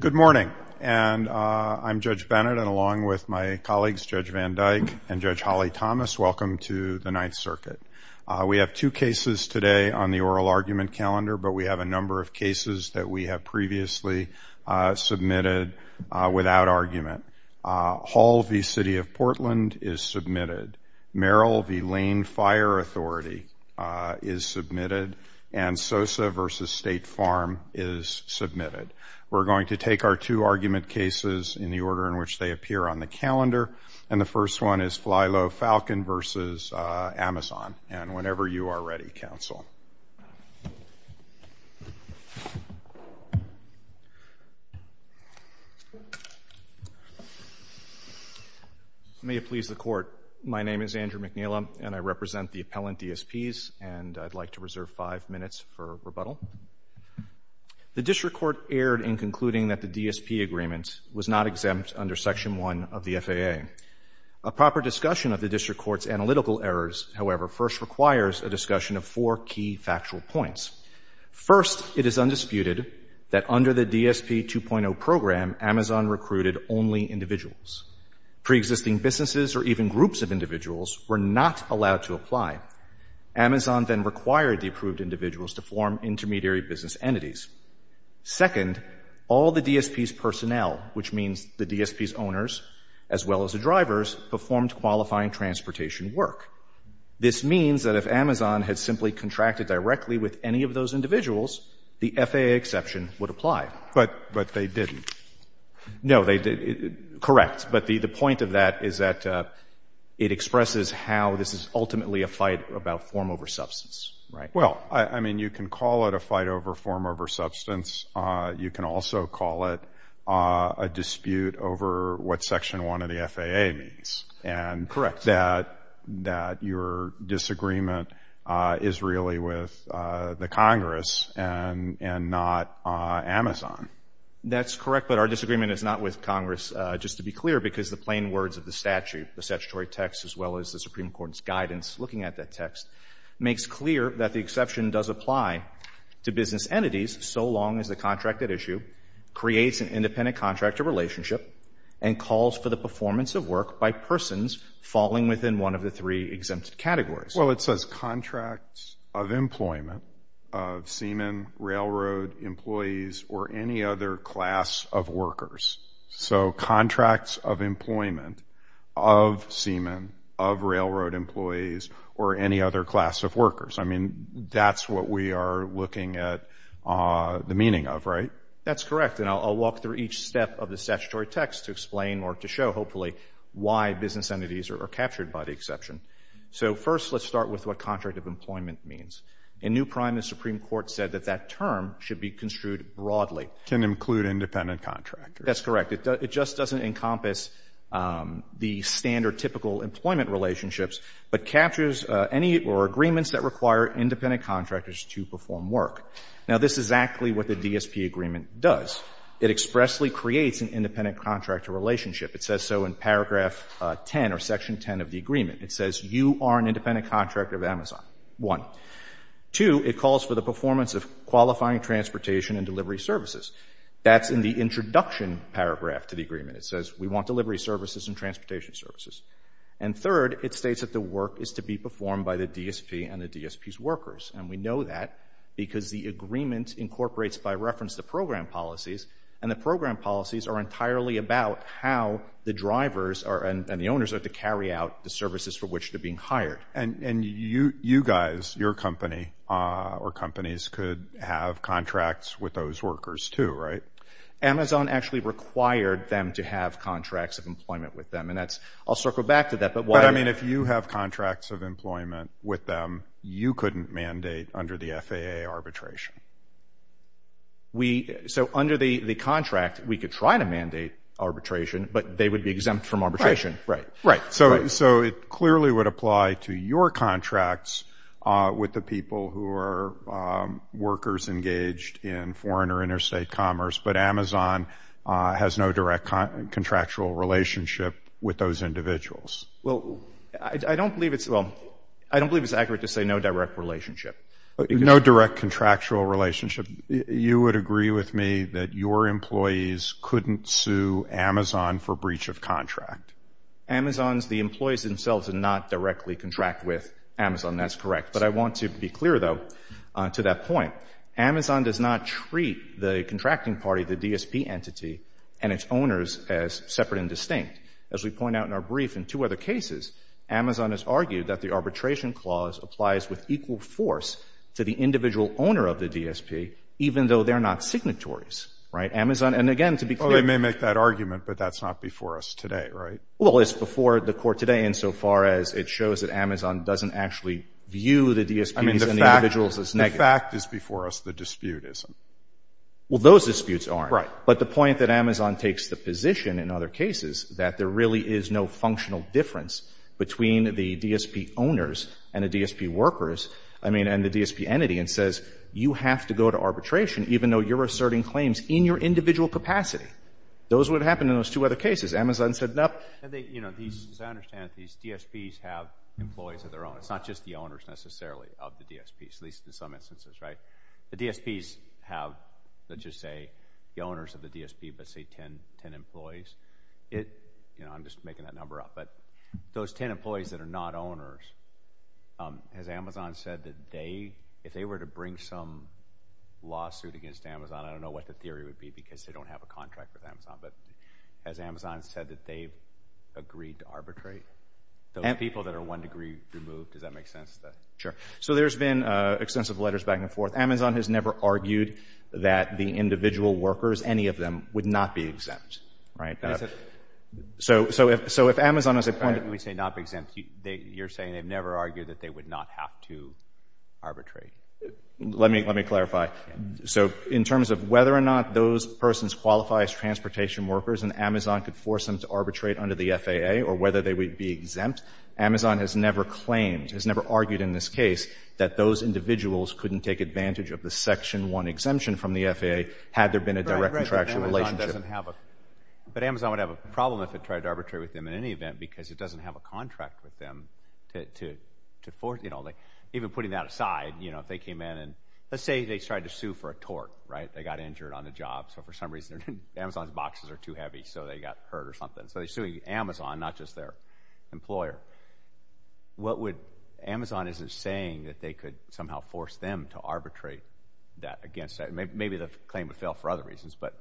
Good morning and I'm Judge Bennett and along with my colleagues Judge Van Dyke and Judge Holly Thomas, welcome to the Ninth Circuit. We have two cases today on the oral argument calendar but we have a number of cases that we have previously submitted without argument. Hall v. City of Portland is submitted. Merrill v. Lane is submitted. We're going to take our two argument cases in the order in which they appear on the calendar and the first one is Fli-Lo Falcon v. AMZN and whenever you are ready, counsel. May it please the Court, my name is Andrew McNeila and I represent the District Court aired in concluding that the DSP agreement was not exempt under Section 1 of the FAA. A proper discussion of the District Court's analytical errors, however, first requires a discussion of four key factual points. First, it is undisputed that under the DSP 2.0 program, AMZN recruited only individuals. Pre-existing businesses or even groups of individuals were not allowed to apply. AMZN then required the Second, all the DSP's personnel, which means the DSP's owners as well as the drivers, performed qualifying transportation work. This means that if AMZN had simply contracted directly with any of those individuals, the FAA exception would apply. But they didn't. No, they didn't. Correct. But the point of that is that it expresses how this is ultimately a fight about form over substance, right? Well, I mean, you can call it a fight over form over substance. You can also call it a dispute over what Section 1 of the FAA means. And that your disagreement is really with the Congress and not AMZN. That's correct, but our disagreement is not with Congress, just to be clear, because the plain words of the statute, the statutory text as well as the Supreme Court's guidance looking at that text, makes clear that the exception does apply to business entities so long as the contract at issue creates an independent contractor relationship and calls for the performance of work by persons falling within one of the three exempt categories. Well, it says contracts of employment of seamen, railroad employees or any other class of workers. So contracts of employment of seamen, of railroad employees or any other class of workers. I mean, that's what we are looking at the meaning of, right? That's correct, and I'll walk through each step of the statutory text to explain or to show hopefully why business entities are captured by the exception. So first, let's start with what contract of employment means. In new prime, the Supreme Court said that that term should be construed broadly. Can include independent contractors. That's correct. It just doesn't encompass the standard typical employment relationships, but captures any or agreements that require independent contractors to perform work. Now this is exactly what the DSP agreement does. It expressly creates an independent contractor relationship. It says so in paragraph 10 or section 10 of the agreement. It says you are an independent contractor of Amazon, one. Two, it calls for the performance of qualifying transportation and delivery services. That's in the introduction paragraph to the agreement. It says we want delivery services and transportation services. And third, it states that the work is to be performed by the DSP and the DSP's workers, and we know that because the agreement incorporates by reference the program policies, and the program policies are entirely about how the drivers are and the owners are to carry out the services for which they're being hired. Right. And you guys, your company or companies could have contracts with those workers too, right? Amazon actually required them to have contracts of employment with them. And that's, I'll circle back to that. But what I mean, if you have contracts of employment with them, you couldn't mandate under the FAA arbitration. We so under the contract, we could try to mandate arbitration, but they would be exempt from arbitration. Right. So, so it clearly would apply to your contracts with the people who are workers engaged in foreign or interstate commerce, but Amazon has no direct contractual relationship with those individuals. Well, I don't believe it's, well, I don't believe it's accurate to say no direct relationship. No direct contractual relationship. You would agree with me that your employees couldn't sue Amazon for breach of contract. Amazon's, the employees themselves and not directly contract with Amazon. That's correct. But I want to be clear though, to that point, Amazon does not treat the contracting party, the DSP entity and its owners as separate and distinct. As we point out in our brief in two other cases, Amazon has argued that the arbitration clause applies with equal force to the individual owner of the DSP, even though they're not signatories, right? Amazon. And again, to be clear. I may make that argument, but that's not before us today, right? Well, it's before the court today insofar as it shows that Amazon doesn't actually view the DSPs and the individuals as negative. I mean, the fact, the fact is before us the dispute isn't. Well, those disputes aren't. Right. But the point that Amazon takes the position in other cases that there really is no functional difference between the DSP owners and the DSP workers, I mean, and the DSP entity and says you have to go to arbitration, even though you're asserting claims in your individual capacity. Those would happen in those two other cases. Amazon said, no, you know, these, as I understand it, these DSPs have employees of their own. It's not just the owners necessarily of the DSPs, at least in some instances. Right. The DSPs have, let's just say, the owners of the DSP, but say 10, 10 employees. It, you know, I'm just making that number up. But those 10 employees that are not owners, as Amazon said that they if they were to bring some lawsuit against Amazon, I don't know what the theory would be because they don't have a contract with Amazon. But as Amazon said that they've agreed to arbitrate the people that are one degree removed. Does that make sense? Sure. So there's been extensive letters back and forth. Amazon has never argued that the individual workers, any of them, would not be exempt. Right. So, so, so if Amazon is a point that we say not exempt, you're saying they've never argued that they would not have to arbitrate. Let me, let me clarify. So in terms of whether or not those persons qualify as transportation workers and Amazon could force them to arbitrate under the FAA or whether they would be exempt, Amazon has never claimed, has never argued in this case that those individuals couldn't take advantage of the Section 1 exemption from the FAA had there been a direct contractual relationship. Right, right, but Amazon doesn't have a, but Amazon would have a problem if it tried to arbitrate with them in any event because it doesn't have a contract with them to, to, to putting that aside, you know, if they came in and let's say they tried to sue for a tort, right, they got injured on the job. So for some reason, Amazon's boxes are too heavy. So they got hurt or something. So they're suing Amazon, not just their employer. What would, Amazon isn't saying that they could somehow force them to arbitrate that against, maybe the claim would fail for other reasons, but.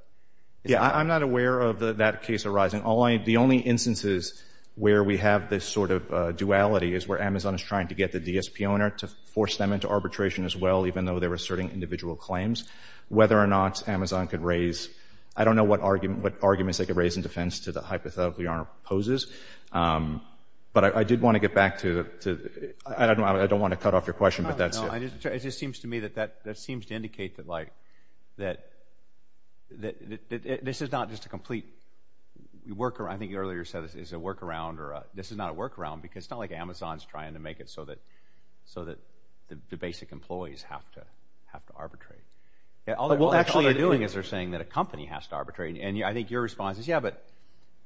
Yeah, I'm not aware of that case arising. Only the only instances where we have this sort of duality is where Amazon is trying to get the DSP owner to force them into arbitration as well, even though they were asserting individual claims, whether or not Amazon could raise, I don't know what argument, what arguments they could raise in defense to the hypothetical your honor poses. But I did want to get back to, to, I don't know, I don't want to cut off your question, but that's it. I just, it just seems to me that that, that seems to indicate that like, that, that this is not just a complete workaround. I think you earlier said this is a workaround or this is not a workaround because it's not like Amazon's trying to make it so that, so that the basic employees have to, have to arbitrate. Yeah, all they're doing is they're saying that a company has to arbitrate. And I think your response is, yeah, but,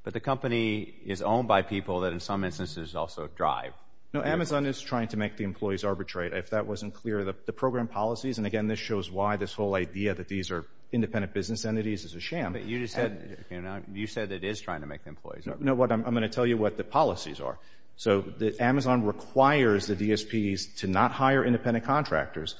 but the company is owned by people that in some instances also drive. No, Amazon is trying to make the employees arbitrate. If that wasn't clear, the program policies, and again, this shows why this whole idea that these are independent business entities is a sham. But you just said, you know, you said it is trying to make the employees arbitrate. No, what I'm going to tell you what the policies are. So the Amazon requires the DSPs to not hire independent contractors.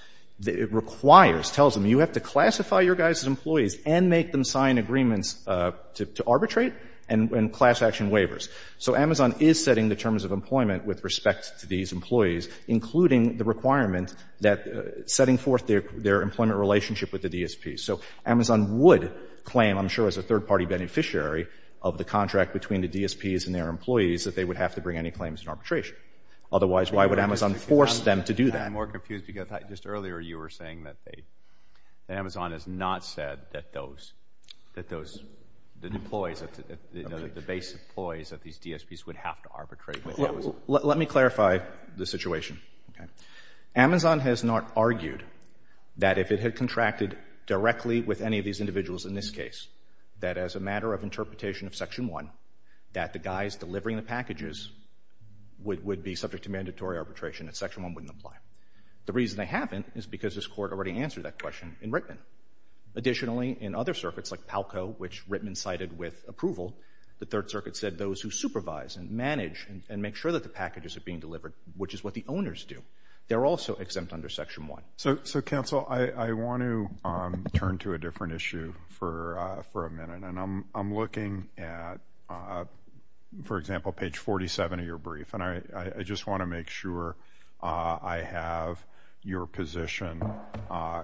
It requires, tells them you have to classify your guys as employees and make them sign agreements to, to arbitrate and, and class action waivers. So Amazon is setting the terms of employment with respect to these employees, including the requirement that setting forth their, their employment relationship with the DSPs. So Amazon would claim, I'm sure as a third party beneficiary of the contract between the DSPs and their employees, that they would have to bring any claims in arbitration. Otherwise, why would Amazon force them to do that? I'm more confused because just earlier you were saying that they, that Amazon has not said that those, that those, the employees, the base employees of these DSPs would have to arbitrate. Let me clarify the situation. Amazon has not argued that if it had contracted directly with any of these individuals in this case, that as a matter of interpretation of section one, that the guys delivering the packages would, would be subject to mandatory arbitration and section one wouldn't apply. The reason they haven't is because this court already answered that question in Rittman. Additionally, in other circuits like Palco, which Rittman cited with approval, the third circuit said those who supervise and manage and make sure that the packages are being delivered, which is what the owners do, they're also exempt under section one. So, so counsel, I, I want to turn to a different issue for, for a minute and I'm, I'm looking at, for example, page 47 of your brief and I, I just want to make sure I have your position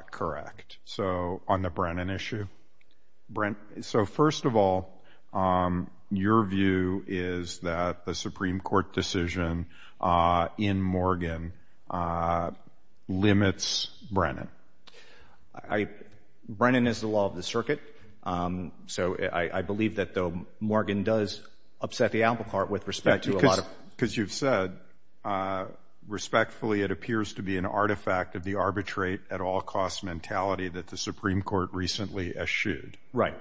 correct. So on the Brennan issue, Brent, so first of all, your view is that the Supreme Court decision in Morgan limits Brennan. I, Brennan is the law of the circuit. So I, I believe that though Morgan does upset the apple cart with respect to a lot of, because you've said, respectfully, it appears to be an artifact of the arbitrate at all costs mentality that the Supreme Court recently eschewed. Right.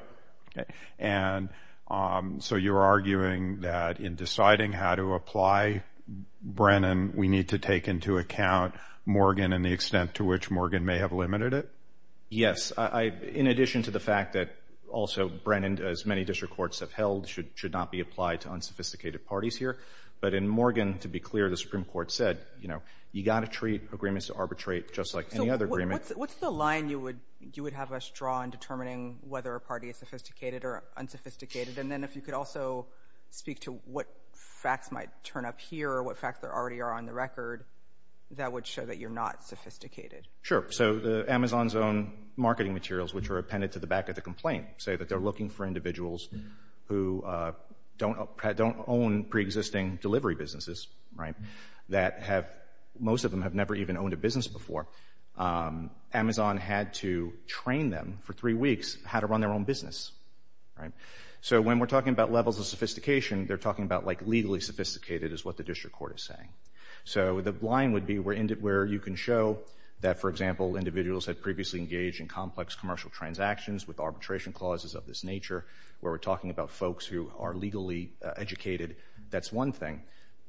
And so you're arguing that in deciding how to apply Brennan, we need to take into account Morgan and the extent to which Morgan may have limited it. Yes. I, in addition to the fact that also Brennan, as many district courts have held, should, should not be applied to unsophisticated parties here. But in Morgan, to be clear, the Supreme Court said, you know, you got to treat agreements to arbitrate just like any other agreement. What's the line you would, you would have us draw in determining whether a party is sophisticated or unsophisticated? And then if you could also speak to what facts might turn up here or what facts there already are on the record, that would show that you're not sophisticated. Sure. So the Amazon's own marketing materials, which are appended to the back of the complaint, say that they're looking for individuals who don't, don't own preexisting delivery businesses, right? That have, most of them have never even owned a business before. Amazon had to train them for three weeks, how to run their own business, right? So when we're talking about levels of sophistication, they're talking about like legally sophisticated is what the district court is saying. So the line would be where you can show that, for example, individuals had previously engaged in complex commercial transactions with arbitration clauses of this nature, where we're talking about folks who are legally educated, that's one thing,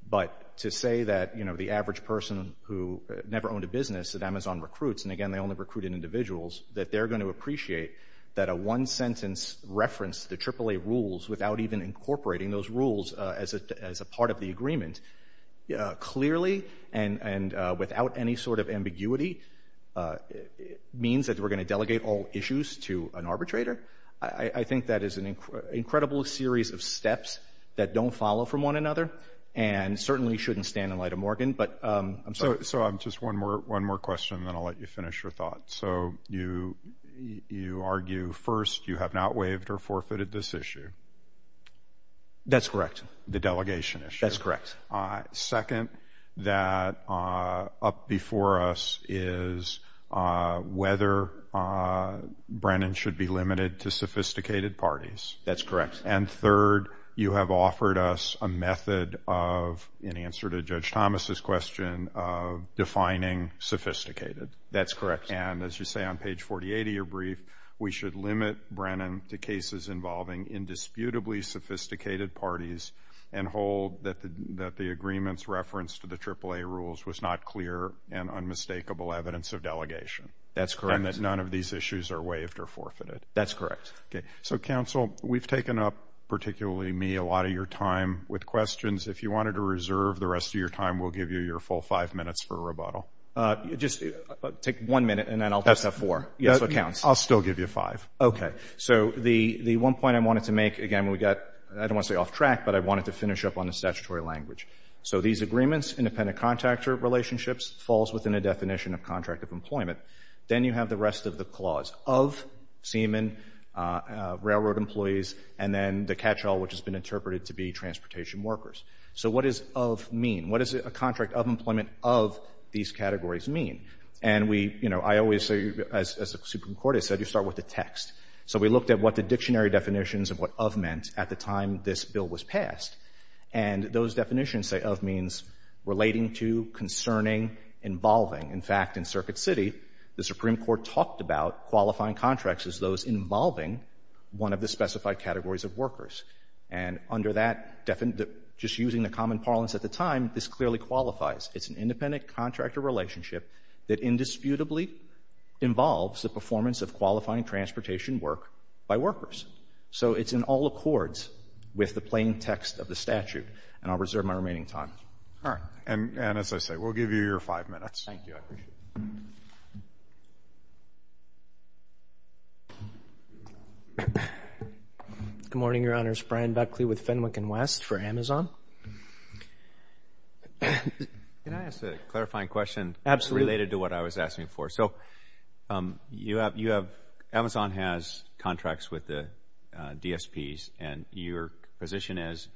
but to say that, you know, the average person who never owned a business, Amazon recruits, and again, they only recruited individuals, that they're going to appreciate that a one sentence reference to AAA rules without even incorporating those rules as a, as a part of the agreement. Yeah, clearly and, and without any sort of ambiguity, it means that we're going to delegate all issues to an arbitrator. I think that is an incredible series of steps that don't follow from one another and certainly shouldn't stand in the light of Morgan, but I'm sorry. So I'm just one more, one more question, then I'll let you finish your thoughts. So you, you argue first, you have not waived or forfeited this issue. That's correct. The delegation issue. That's correct. Second, that up before us is whether Brandon should be limited to sophisticated parties. That's correct. And third, you have offered us a method of, in answer to Judge Thomas's question of defining sophisticated. That's correct. And as you say, on page 48 of your brief, we should limit Brandon to cases involving indisputably sophisticated parties and hold that the, that the agreements reference to the AAA rules was not clear and unmistakable evidence of delegation. That's correct. And that none of these issues are waived or forfeited. That's correct. Okay. So counsel, we've taken up, particularly me, a lot of your time with questions. If you wanted to reserve the rest of your time, we'll give you your full five minutes for a rebuttal. Just take one minute and then I'll just have four. Yes, so it counts. I'll still give you five. Okay. So the, the one point I wanted to make, again, we got, I don't want to say off track, but I wanted to finish up on the statutory language. So these agreements, independent contractor relationships, falls within a definition of contract of employment. Then you have the rest of the clause of seamen, railroad employees, and then the catch-all, which has been interpreted to be transportation workers. So what does of mean? What does a contract of employment of these categories mean? And we, you know, I always say as a Supreme Court, I said, you start with the text. So we looked at what the dictionary definitions of what of meant at the time this bill was passed. And those definitions say of means relating to, concerning, involving. In fact, in Circuit City, the Supreme Court talked about qualifying contracts as those involving one of the specified categories of workers. And under that definition, just using the common parlance at the time, this clearly qualifies. It's an independent contractor relationship that indisputably involves the performance of qualifying transportation work by workers. So it's in all accords with the plain text of the statute, and I'll reserve my remaining time. All right. And, and as I say, we'll give you your five minutes. Thank you. Good morning, Your Honors. Brian Beckley with Fenwick and West for Amazon. Can I ask a clarifying question related to what I was asking for? So you have, you have, Amazon has contracts with the DSPs and your position is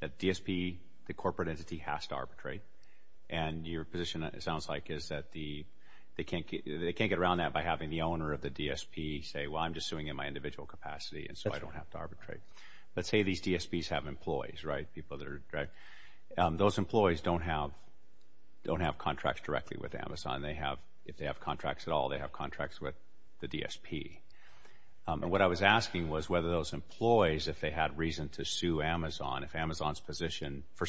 that DSP, the corporate entity, has to arbitrate. And your position, it sounds like, is that the, they can't get, they can't get around that by having the owner of the DSP say, well, I'm just suing in my individual capacity, and so I don't have to arbitrate. Let's say these DSPs have employees, right? People that are, right? Those employees don't have, don't have contracts directly with Amazon. They have, if they have contracts at all, they have contracts with the DSP. And what I was asking was whether those employees, if they had reason to sue Amazon, would Amazon's position be that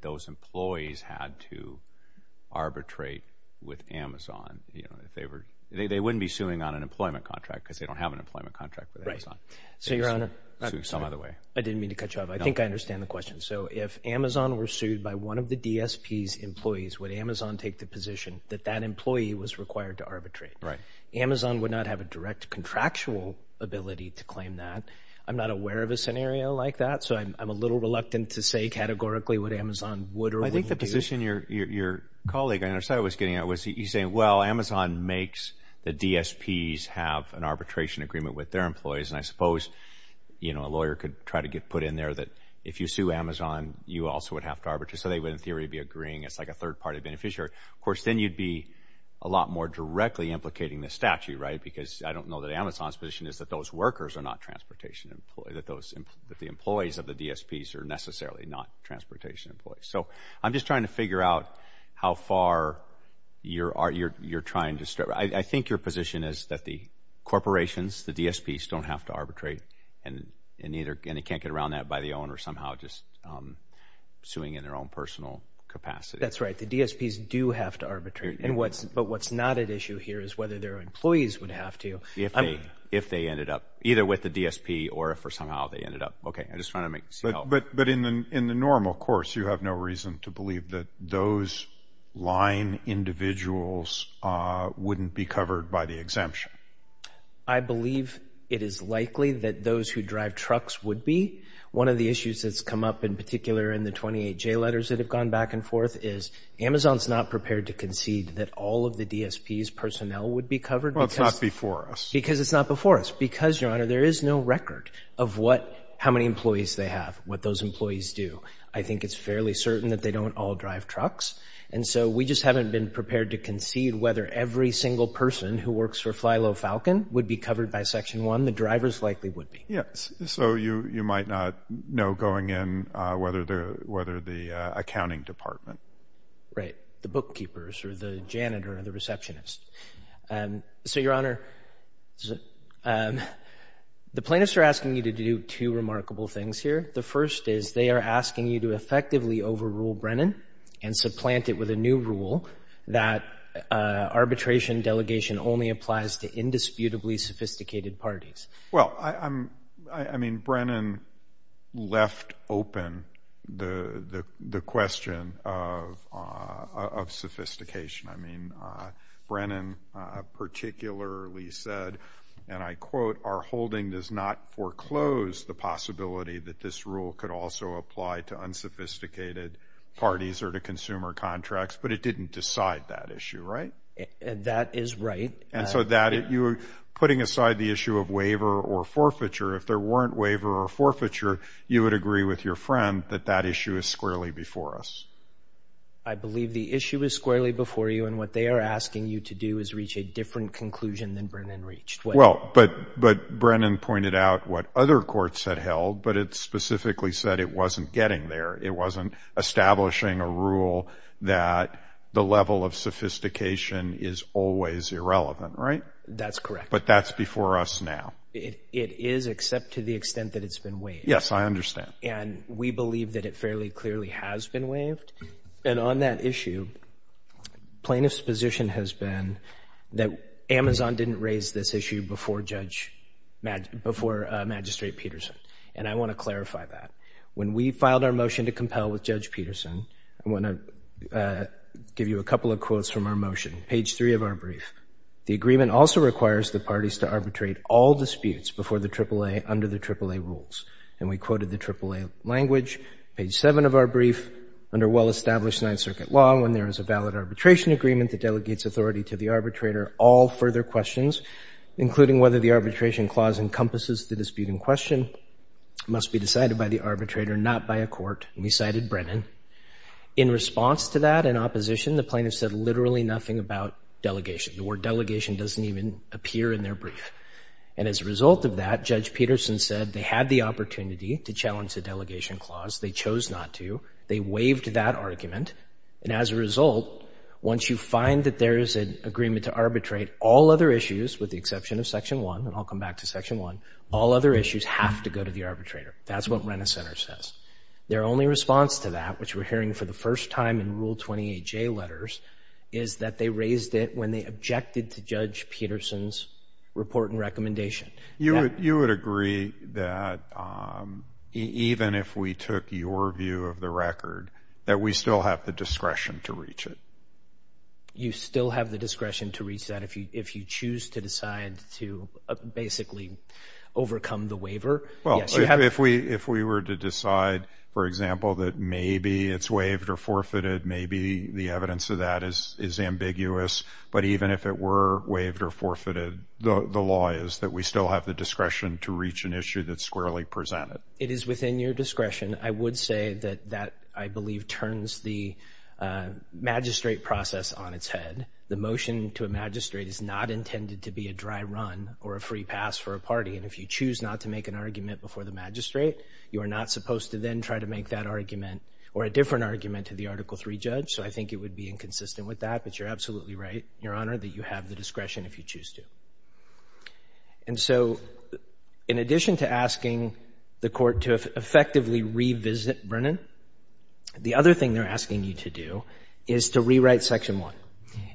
those employees had to arbitrate with Amazon, you know, if they were, they, they wouldn't be suing on an employment contract because they don't have an employment contract with Amazon. So Your Honor, I didn't mean to cut you off. I think I understand the question. So if Amazon were sued by one of the DSP's employees, would Amazon take the position that that employee was required to arbitrate? Right. Amazon would not have a direct contractual ability to claim that. I'm not aware of a scenario like that. So I'm, I'm a little reluctant to say categorically what Amazon would or wouldn't do. I think the position your, your, your colleague, I understand, was getting at was he saying, well, Amazon makes the DSP's have an arbitration agreement with their employees. And I suppose, you know, a lawyer could try to get put in there that if you sue Amazon, you also would have to arbitrate. So they would, in theory, be agreeing. It's like a third party beneficiary. Of course, then you'd be a lot more directly implicating the statute, right? Because I don't know that Amazon's position is that those workers are not transportation employees, that those, that the employees of the DSP's are necessarily not transportation employees. So I'm just trying to figure out how far you're, you're, you're trying to, I think your position is that the corporations, the DSP's don't have to arbitrate and, and either, and they can't get around that by the owner somehow just suing in their own personal capacity. That's right. The DSP's do have to arbitrate and what's, but what's not at issue here is whether their employees would have to. If they, if they ended up either with the DSP or if, or somehow they ended up, okay, I just want to make, but, but in the, in the normal course, you have no reason to believe that those line individuals wouldn't be covered by the exemption. I believe it is likely that those who drive trucks would be one of the issues that's come up in particular in the 28 J letters that have gone back and forth is Amazon's not prepared to concede that all of the DSP's personnel would be Well, it's not before us. Because it's not before us because your honor, there is no record of what, how many employees they have, what those employees do. I think it's fairly certain that they don't all drive trucks. And so we just haven't been prepared to concede whether every single person who works for Fly Low Falcon would be covered by section one. The drivers likely would be. Yes. So you, you might not know going in whether the, whether the accounting department, right. The bookkeepers or the janitor or the receptionist. And so your honor, the plaintiffs are asking you to do two remarkable things here. The first is they are asking you to effectively overrule Brennan and supplant it with a new rule that arbitration delegation only applies to indisputably sophisticated parties. Well, I, I'm, I mean, Brennan left open the, the, the question of, of sophistication. I mean, Brennan particularly said, and I quote, our holding does not foreclose the possibility that this rule could also apply to unsophisticated parties or to consumer contracts, but it didn't decide that issue. Right. And that is right. And so that you were putting aside the issue of waiver or forfeiture. If there weren't waiver or forfeiture, you would agree with your friend that that issue is squarely before us. I believe the issue is squarely before you and what they are asking you to do is reach a different conclusion than Brennan reached. Well, but, but Brennan pointed out what other courts had held, but it's specifically said it wasn't getting there. It wasn't establishing a rule that the level of sophistication is always irrelevant, right? That's correct. But that's before us now. It, it is except to the extent that it's been waived. Yes, I understand. And we believe that it fairly clearly has been waived. And on that issue, plaintiff's position has been that Amazon didn't raise this issue before Judge, before Magistrate Peterson. And I want to clarify that. When we filed our motion to compel with Judge Peterson, I want to give you a couple of quotes from our motion. Page three of our brief, the agreement also requires the parties to arbitrate all disputes before the AAA under the AAA rules. And we quoted the AAA language, page seven of our brief, under well-established Ninth Circuit law, when there is a valid arbitration agreement that delegates authority to the arbitrator, all further questions, including whether the arbitration clause encompasses the dispute in question, must be decided by the arbitrator, not by a court. And we cited Brennan. In response to that, in opposition, the plaintiff said literally nothing about delegation. The word delegation doesn't even appear in their brief. And as a result of that, Judge Peterson said they had the opportunity to challenge the delegation clause. They chose not to. They waived that argument. And as a result, once you find that there is an agreement to arbitrate all other issues, with the exception of section one, and I'll come back to section one, all other issues have to go to the arbitrator. That's what Renner Center says. Their only response to that, which we're hearing for the first time in Rule 28J letters, is that they raised it when they objected to Judge Peterson's report and recommendation. You would agree that even if we took your view of the record, that we still have the discretion to reach it? You still have the discretion to reach that if you choose to decide to basically overcome the waiver? Well, if we were to decide, for example, that maybe it's waived or forfeited, maybe the evidence of that is ambiguous. But even if it were waived or forfeited, the law is that we still have the discretion to reach an issue that's squarely presented. It is within your discretion. I would say that that, I believe, turns the magistrate process on its head. The motion to a magistrate is not intended to be a dry run or a free pass for a new argument before the magistrate. You are not supposed to then try to make that argument or a different argument to the Article III judge. So I think it would be inconsistent with that. But you're absolutely right, Your Honor, that you have the discretion if you choose to. And so, in addition to asking the court to effectively revisit Brennan, the other thing they're asking you to do is to rewrite Section 1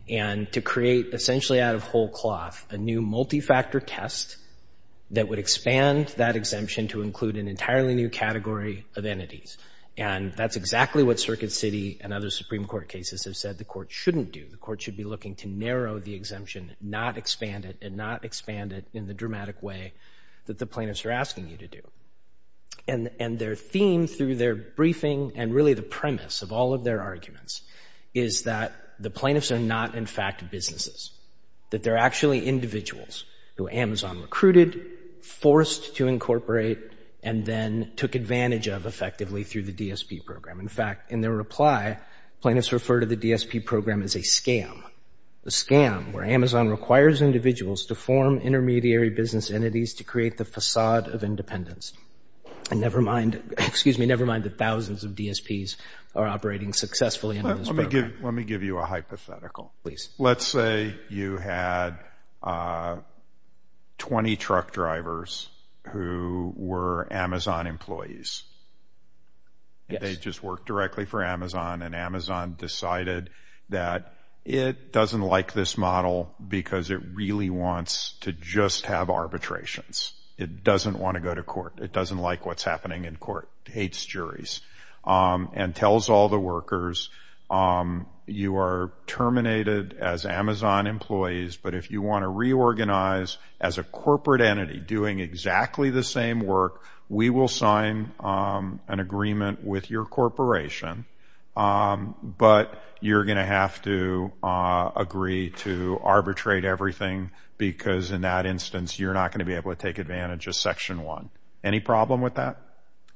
and to create, essentially out of whole cloth, a new multi-factor test that would expand that exemption to include an entirely new category of entities. And that's exactly what Circuit City and other Supreme Court cases have said the court shouldn't do. The court should be looking to narrow the exemption, not expand it, and not expand it in the dramatic way that the plaintiffs are asking you to do. And their theme through their briefing, and really the premise of all of their arguments, is that the plaintiffs are not, in fact, businesses. That they're actually individuals who Amazon recruited, forced to incorporate, and then took advantage of effectively through the DSP program. In fact, in their reply, plaintiffs refer to the DSP program as a scam, a scam where Amazon requires individuals to form intermediary business entities to create the facade of independence. And never mind, excuse me, never mind that thousands of DSPs are operating successfully under this program. Let me give you a hypothetical. Please. Let's say you had 20 truck drivers who were Amazon employees. They just worked directly for Amazon, and Amazon decided that it doesn't like this model because it really wants to just have arbitrations. It doesn't want to go to court. It doesn't like what's happening in court, hates juries, and tells all the workers, you are terminated as Amazon employees, but if you want to reorganize as a corporate entity doing exactly the same work, we will sign an agreement with your corporation. But you're going to have to agree to arbitrate everything because in that instance, you're not going to be able to take advantage of Section 1. Any problem with that?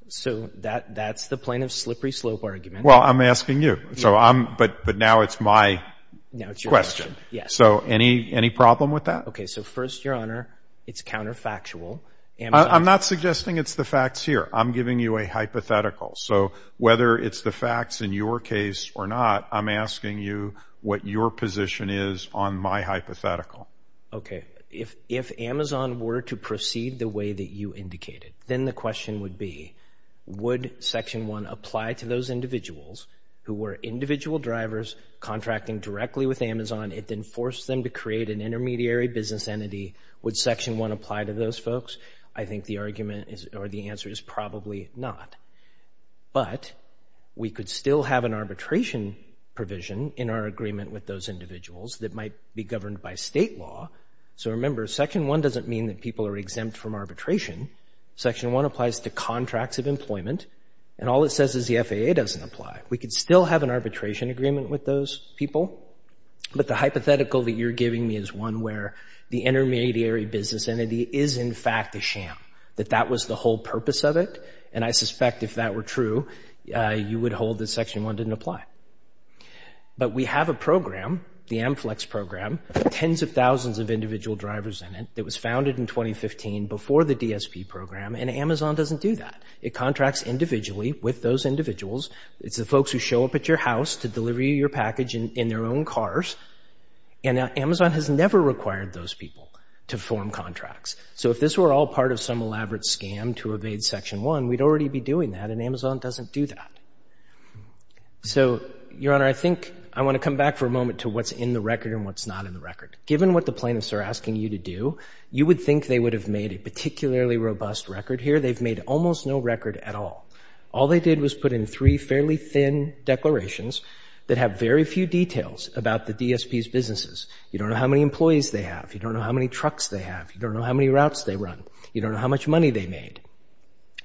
So that's the plaintiff's slippery slope argument. Well, I'm asking you, but now it's my question. So any problem with that? Okay. So first, Your Honor, it's counterfactual. I'm not suggesting it's the facts here. I'm giving you a hypothetical. So whether it's the facts in your case or not, I'm asking you what your position is on my hypothetical. Okay. If Amazon were to proceed the way that you indicated, then the question would be, would Section 1 apply to those individuals who were individual drivers contracting directly with Amazon? It then forced them to create an intermediary business entity. Would Section 1 apply to those folks? I think the argument or the answer is probably not. But we could still have an arbitration provision in our agreement with those individuals that might be governed by state law. So remember, Section 1 doesn't mean that people are exempt from arbitration. Section 1 applies to contracts of employment, and all it says is the FAA doesn't apply. We could still have an arbitration agreement with those people, but the hypothetical that you're giving me is one where the intermediary business entity is, in fact, a sham, that that was the whole purpose of it. And I suspect if that were true, you would hold that Section 1 didn't apply. But we have a program, the AmFlex program, with tens of thousands of individual drivers in it that was founded in 2015 before the DSP program, and Amazon doesn't do that. It contracts individually with those individuals. It's the folks who show up at your house to deliver you your package in their own cars. And Amazon has never required those people to form contracts. So if this were all part of some elaborate scam to evade Section 1, we'd already be doing that, and Amazon doesn't do that. So, Your Honor, I think I want to come back for a moment to what's in the record and what's not in the record. Given what the plaintiffs are asking you to do, you would think they would have made a particularly robust record here. They've made almost no record at all. All they did was put in three fairly thin declarations that have very few details about the DSP's businesses. You don't know how many employees they have. You don't know how many trucks they have. You don't know how many routes they run. You don't know how much money they made.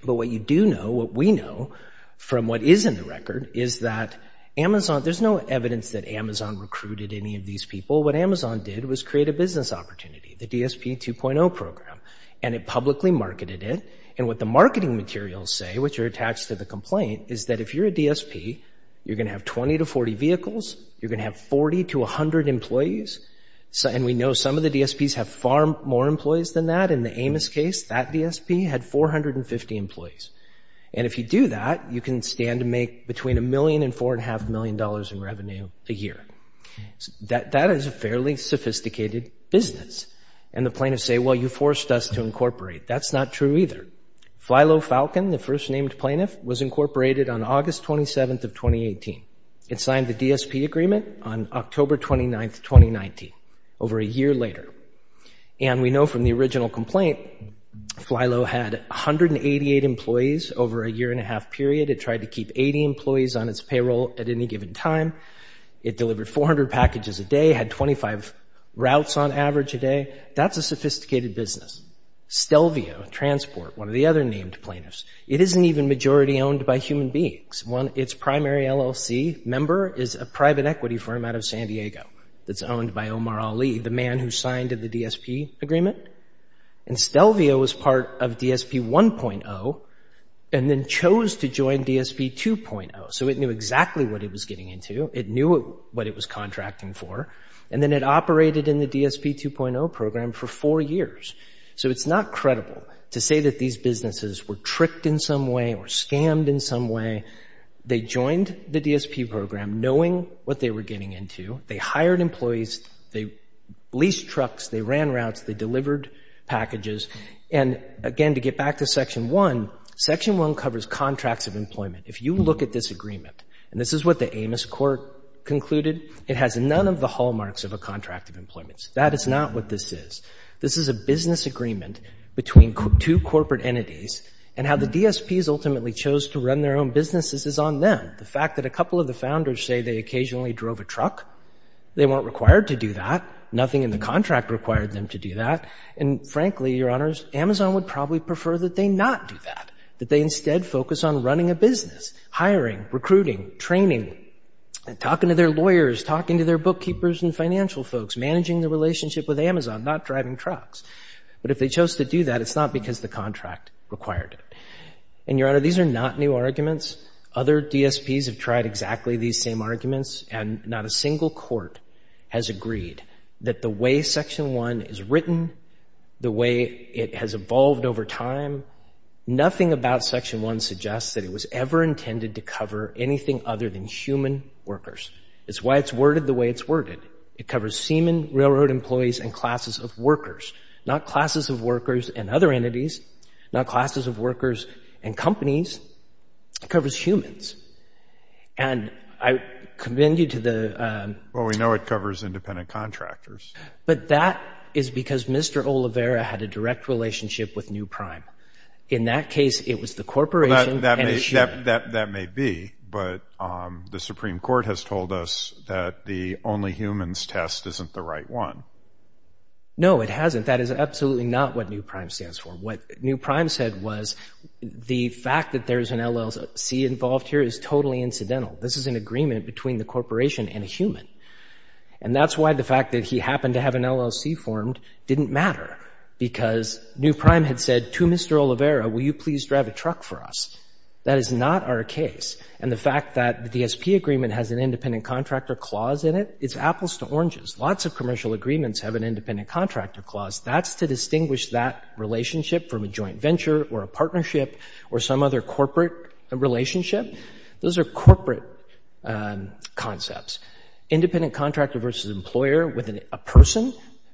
But what you do know, what we know from what is in the record, is that Amazon, there's no evidence that Amazon recruited any of these people. What Amazon did was create a business opportunity, the DSP 2.0 program, and it publicly marketed it. And what the marketing materials say, which are attached to the complaint, is that if you're a DSP, you're going to have 20 to 40 vehicles. You're going to have 40 to 100 employees. And we know some of the DSPs have far more employees than that. In the Amos case, that DSP had 450 employees. And if you do that, you can stand to make between a million and four and a half million dollars in revenue a year. That is a fairly sophisticated business. And the plaintiffs say, well, you forced us to incorporate. That's not true either. Flylow Falcon, the first named plaintiff, was incorporated on August 27th of 2018. It signed the DSP agreement on October 29th, 2019, over a year later. And we know from the original complaint, Flylow had 188 employees over a year and a half period. It tried to keep 80 employees on its payroll at any given time. It delivered 400 packages a day, had 25 routes on average a day. That's a sophisticated business. Stelvio, Transport, one of the other named plaintiffs, it is an even majority owned by human beings. Its primary LLC member is a private equity firm out of San Diego that's owned by Omar Ali, the man who signed the DSP agreement. And Stelvio was part of DSP 1.0 and then chose to join DSP 2.0, so it knew exactly what it was getting into. It knew what it was contracting for. And then it operated in the DSP 2.0 program for four years. So it's not credible to say that these businesses were tricked in some way or scammed in some way. They joined the DSP program knowing what they were getting into. They hired employees, they leased trucks, they ran routes, they delivered packages. And again, to get back to Section 1, Section 1 covers contracts of employment. If you look at this agreement and this is what the Amos Court concluded, it has none of the hallmarks of a contract of employment. That is not what this is. This is a business agreement between two corporate entities and how the DSPs ultimately chose to run their own businesses is on them. The fact that a couple of the founders say they occasionally drove a truck, they weren't required to do that. Nothing in the contract required them to do that. And frankly, Your Honors, Amazon would probably prefer that they not do that, that they instead focus on running a business, hiring, recruiting, training, talking to their lawyers, talking to their bookkeepers and financial folks, managing the relationship with Amazon, not driving trucks. But if they chose to do that, it's not because the contract required it. And Your Honor, these are not new arguments. Other DSPs have tried exactly these same arguments and not a single court has agreed that the way Section 1 is written, the way it has evolved over time, nothing about Section 1 suggests that it was ever intended to cover anything other than human workers. It's why it's worded the way it's worded. It covers seamen, railroad employees and classes of workers, not classes of workers and other entities, not classes of workers and companies. It covers humans. And I commend you to the. Well, we know it covers independent contractors. Oliveira had a direct relationship with New Prime. In that case, it was the corporation. That may be, but the Supreme Court has told us that the only humans test isn't the right one. No, it hasn't. That is absolutely not what New Prime stands for. What New Prime said was the fact that there is an LLC involved here is totally incidental. This is an agreement between the corporation and a human. And that's why the fact that he happened to have an LLC formed didn't matter because New Prime said, Mr. Oliveira, will you please drive a truck for us? That is not our case. And the fact that the DSP agreement has an independent contractor clause in it, it's apples to oranges. Lots of commercial agreements have an independent contractor clause. That's to distinguish that relationship from a joint venture or a partnership or some other corporate relationship. Those are corporate concepts. Independent contractor versus employer with a person.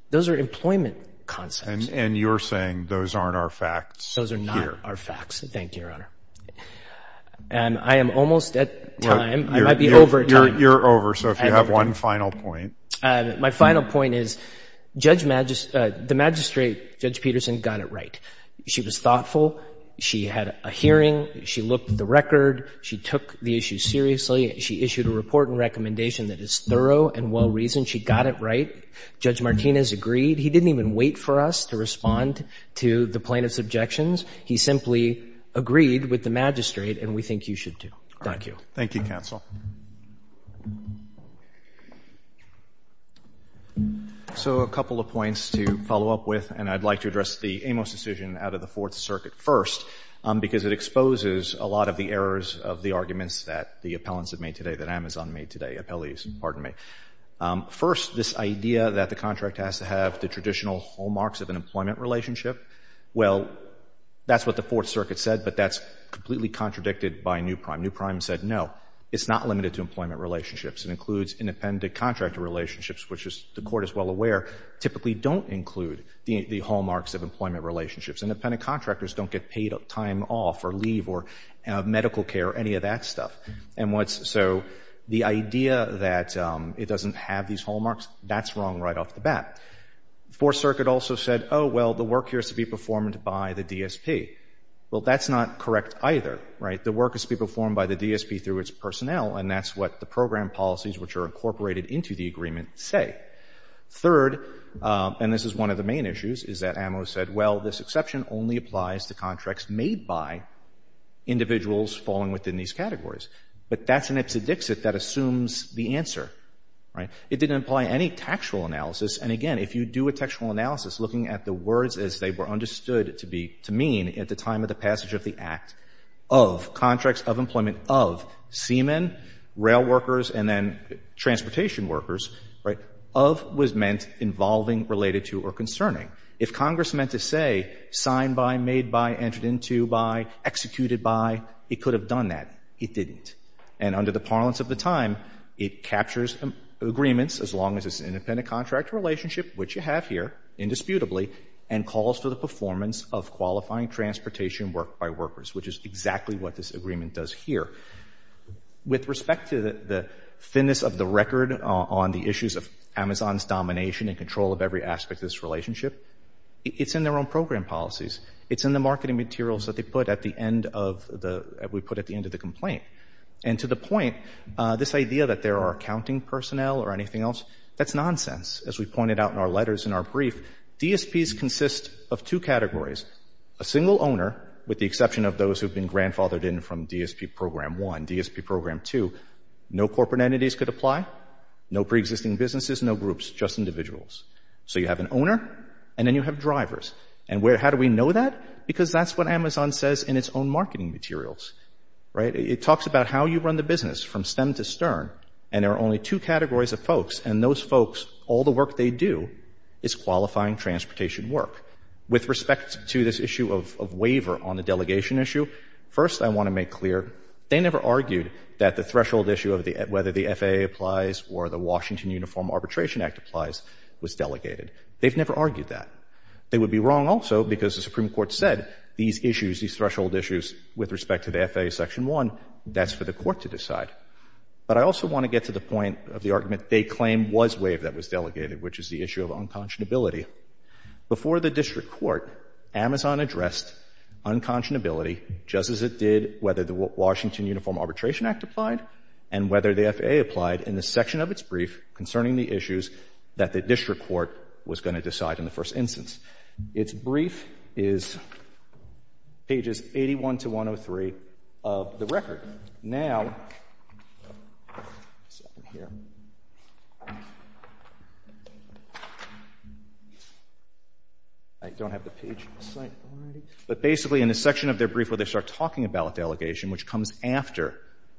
Those are employment concepts. And you're saying those aren't our facts. Those are not our facts. Thank you, Your Honor. And I am almost at time. I might be over. You're over. So if you have one final point. My final point is Judge Magistrate, Judge Peterson got it right. She was thoughtful. She had a hearing. She looked at the record. She took the issue seriously. She issued a report and recommendation that is thorough and well reasoned. She got it right. Judge Martinez agreed. He didn't even wait for us to respond to the plaintiff's objections. He simply agreed with the magistrate. And we think you should, too. Thank you. Thank you, counsel. So a couple of points to follow up with, and I'd like to address the Amos decision out of the Fourth Circuit first, because it exposes a lot of the errors of the arguments that the appellants have made today, that Amazon made today, appellees, pardon me. First, this idea that the contract has to have the traditional hallmarks of an employment relationship. Well, that's what the Fourth Circuit said, but that's completely contradicted by Newprime. Newprime said, no, it's not limited to employment relationships. It includes independent contractor relationships, which the court is well aware typically don't include the hallmarks of employment relationships. Independent contractors don't get paid time off or leave or have medical care or any of that stuff. And so the idea that it doesn't have these hallmarks, that's wrong right off the bat. The Fourth Circuit also said, oh, well, the work here has to be performed by the DSP. Well, that's not correct either, right? The work has to be performed by the DSP through its personnel. And that's what the program policies, which are incorporated into the agreement, say. Third, and this is one of the main issues, is that Amos said, well, this exception only applies to contracts made by individuals falling within these categories. But that's an ipsedixit that assumes the answer, right? It didn't apply any taxable analysis. And again, if you do a textual analysis, looking at the words as they were understood to be to mean at the time of the passage of the Act of contracts of employment of seamen, rail workers and then transportation workers, right, of was meant involving, related to or concerning. If Congress meant to say signed by, made by, entered into by, executed by, it could have done that. It didn't. And under the parlance of the time, it captures agreements as long as it's an independent contract relationship, which you have here, indisputably, and calls for the performance of qualifying transportation work by workers, which is exactly what this agreement does here. With respect to the thinness of the record on the issues of Amazon's domination and this relationship, it's in their own program policies. It's in the marketing materials that they put at the end of the, we put at the end of the complaint. And to the point, this idea that there are accounting personnel or anything else, that's nonsense. As we pointed out in our letters, in our brief, DSPs consist of two categories, a single owner, with the exception of those who've been grandfathered in from DSP Program 1, DSP Program 2, no corporate entities could apply, no preexisting businesses, no groups, just individuals. So you have an owner and then you have drivers. And how do we know that? Because that's what Amazon says in its own marketing materials, right? It talks about how you run the business from stem to stern. And there are only two categories of folks. And those folks, all the work they do is qualifying transportation work. With respect to this issue of waiver on the delegation issue, first, I want to make clear, they never argued that the threshold issue of whether the FAA applies or the FAA was delegated. They've never argued that. They would be wrong also because the Supreme Court said these issues, these threshold issues with respect to the FAA Section 1, that's for the court to decide. But I also want to get to the point of the argument they claim was waived that was delegated, which is the issue of unconscionability. Before the district court, Amazon addressed unconscionability just as it did whether the Washington Uniform Arbitration Act applied and whether the FAA applied in the section of its brief concerning the issues that the district court was going to decide in the first instance. Its brief is pages 81 to 103 of the record. Now, I don't have the page on the site, but basically in the section of their brief where they start talking about delegation, which comes after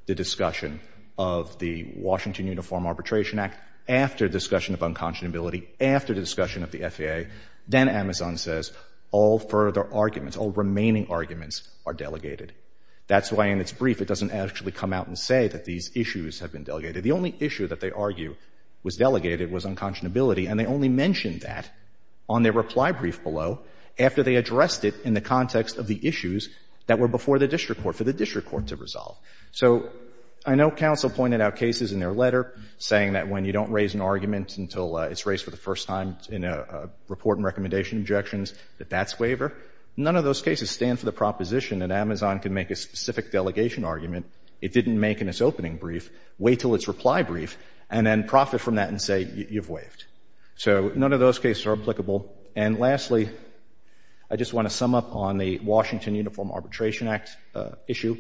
the discussion of the Washington Uniform Arbitration Act, after the discussion of unconscionability, after the discussion of the FAA, then Amazon says all further arguments, all remaining arguments are delegated. That's why in its brief it doesn't actually come out and say that these issues have been delegated. The only issue that they argue was delegated was unconscionability and they only mentioned that on their reply brief below after they addressed it in the context of the issues that were before the district court for the district court to their letter, saying that when you don't raise an argument until it's raised for the first time in a report and recommendation injections, that that's waiver. None of those cases stand for the proposition that Amazon can make a specific delegation argument it didn't make in its opening brief, wait till its reply brief and then profit from that and say you've waived. So none of those cases are applicable. And lastly, I just want to sum up on the Washington Uniform Arbitration Act issue.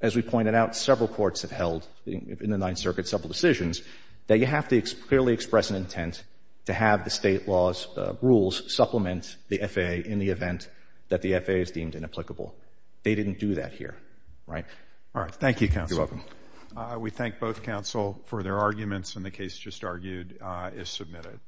As we pointed out, several courts have held in the Ninth Circuit several decisions that you have to clearly express an intent to have the state laws rules supplement the FAA in the event that the FAA is deemed inapplicable. They didn't do that here. Right. All right. Thank you, counsel. We thank both counsel for their arguments and the case just argued is submitted.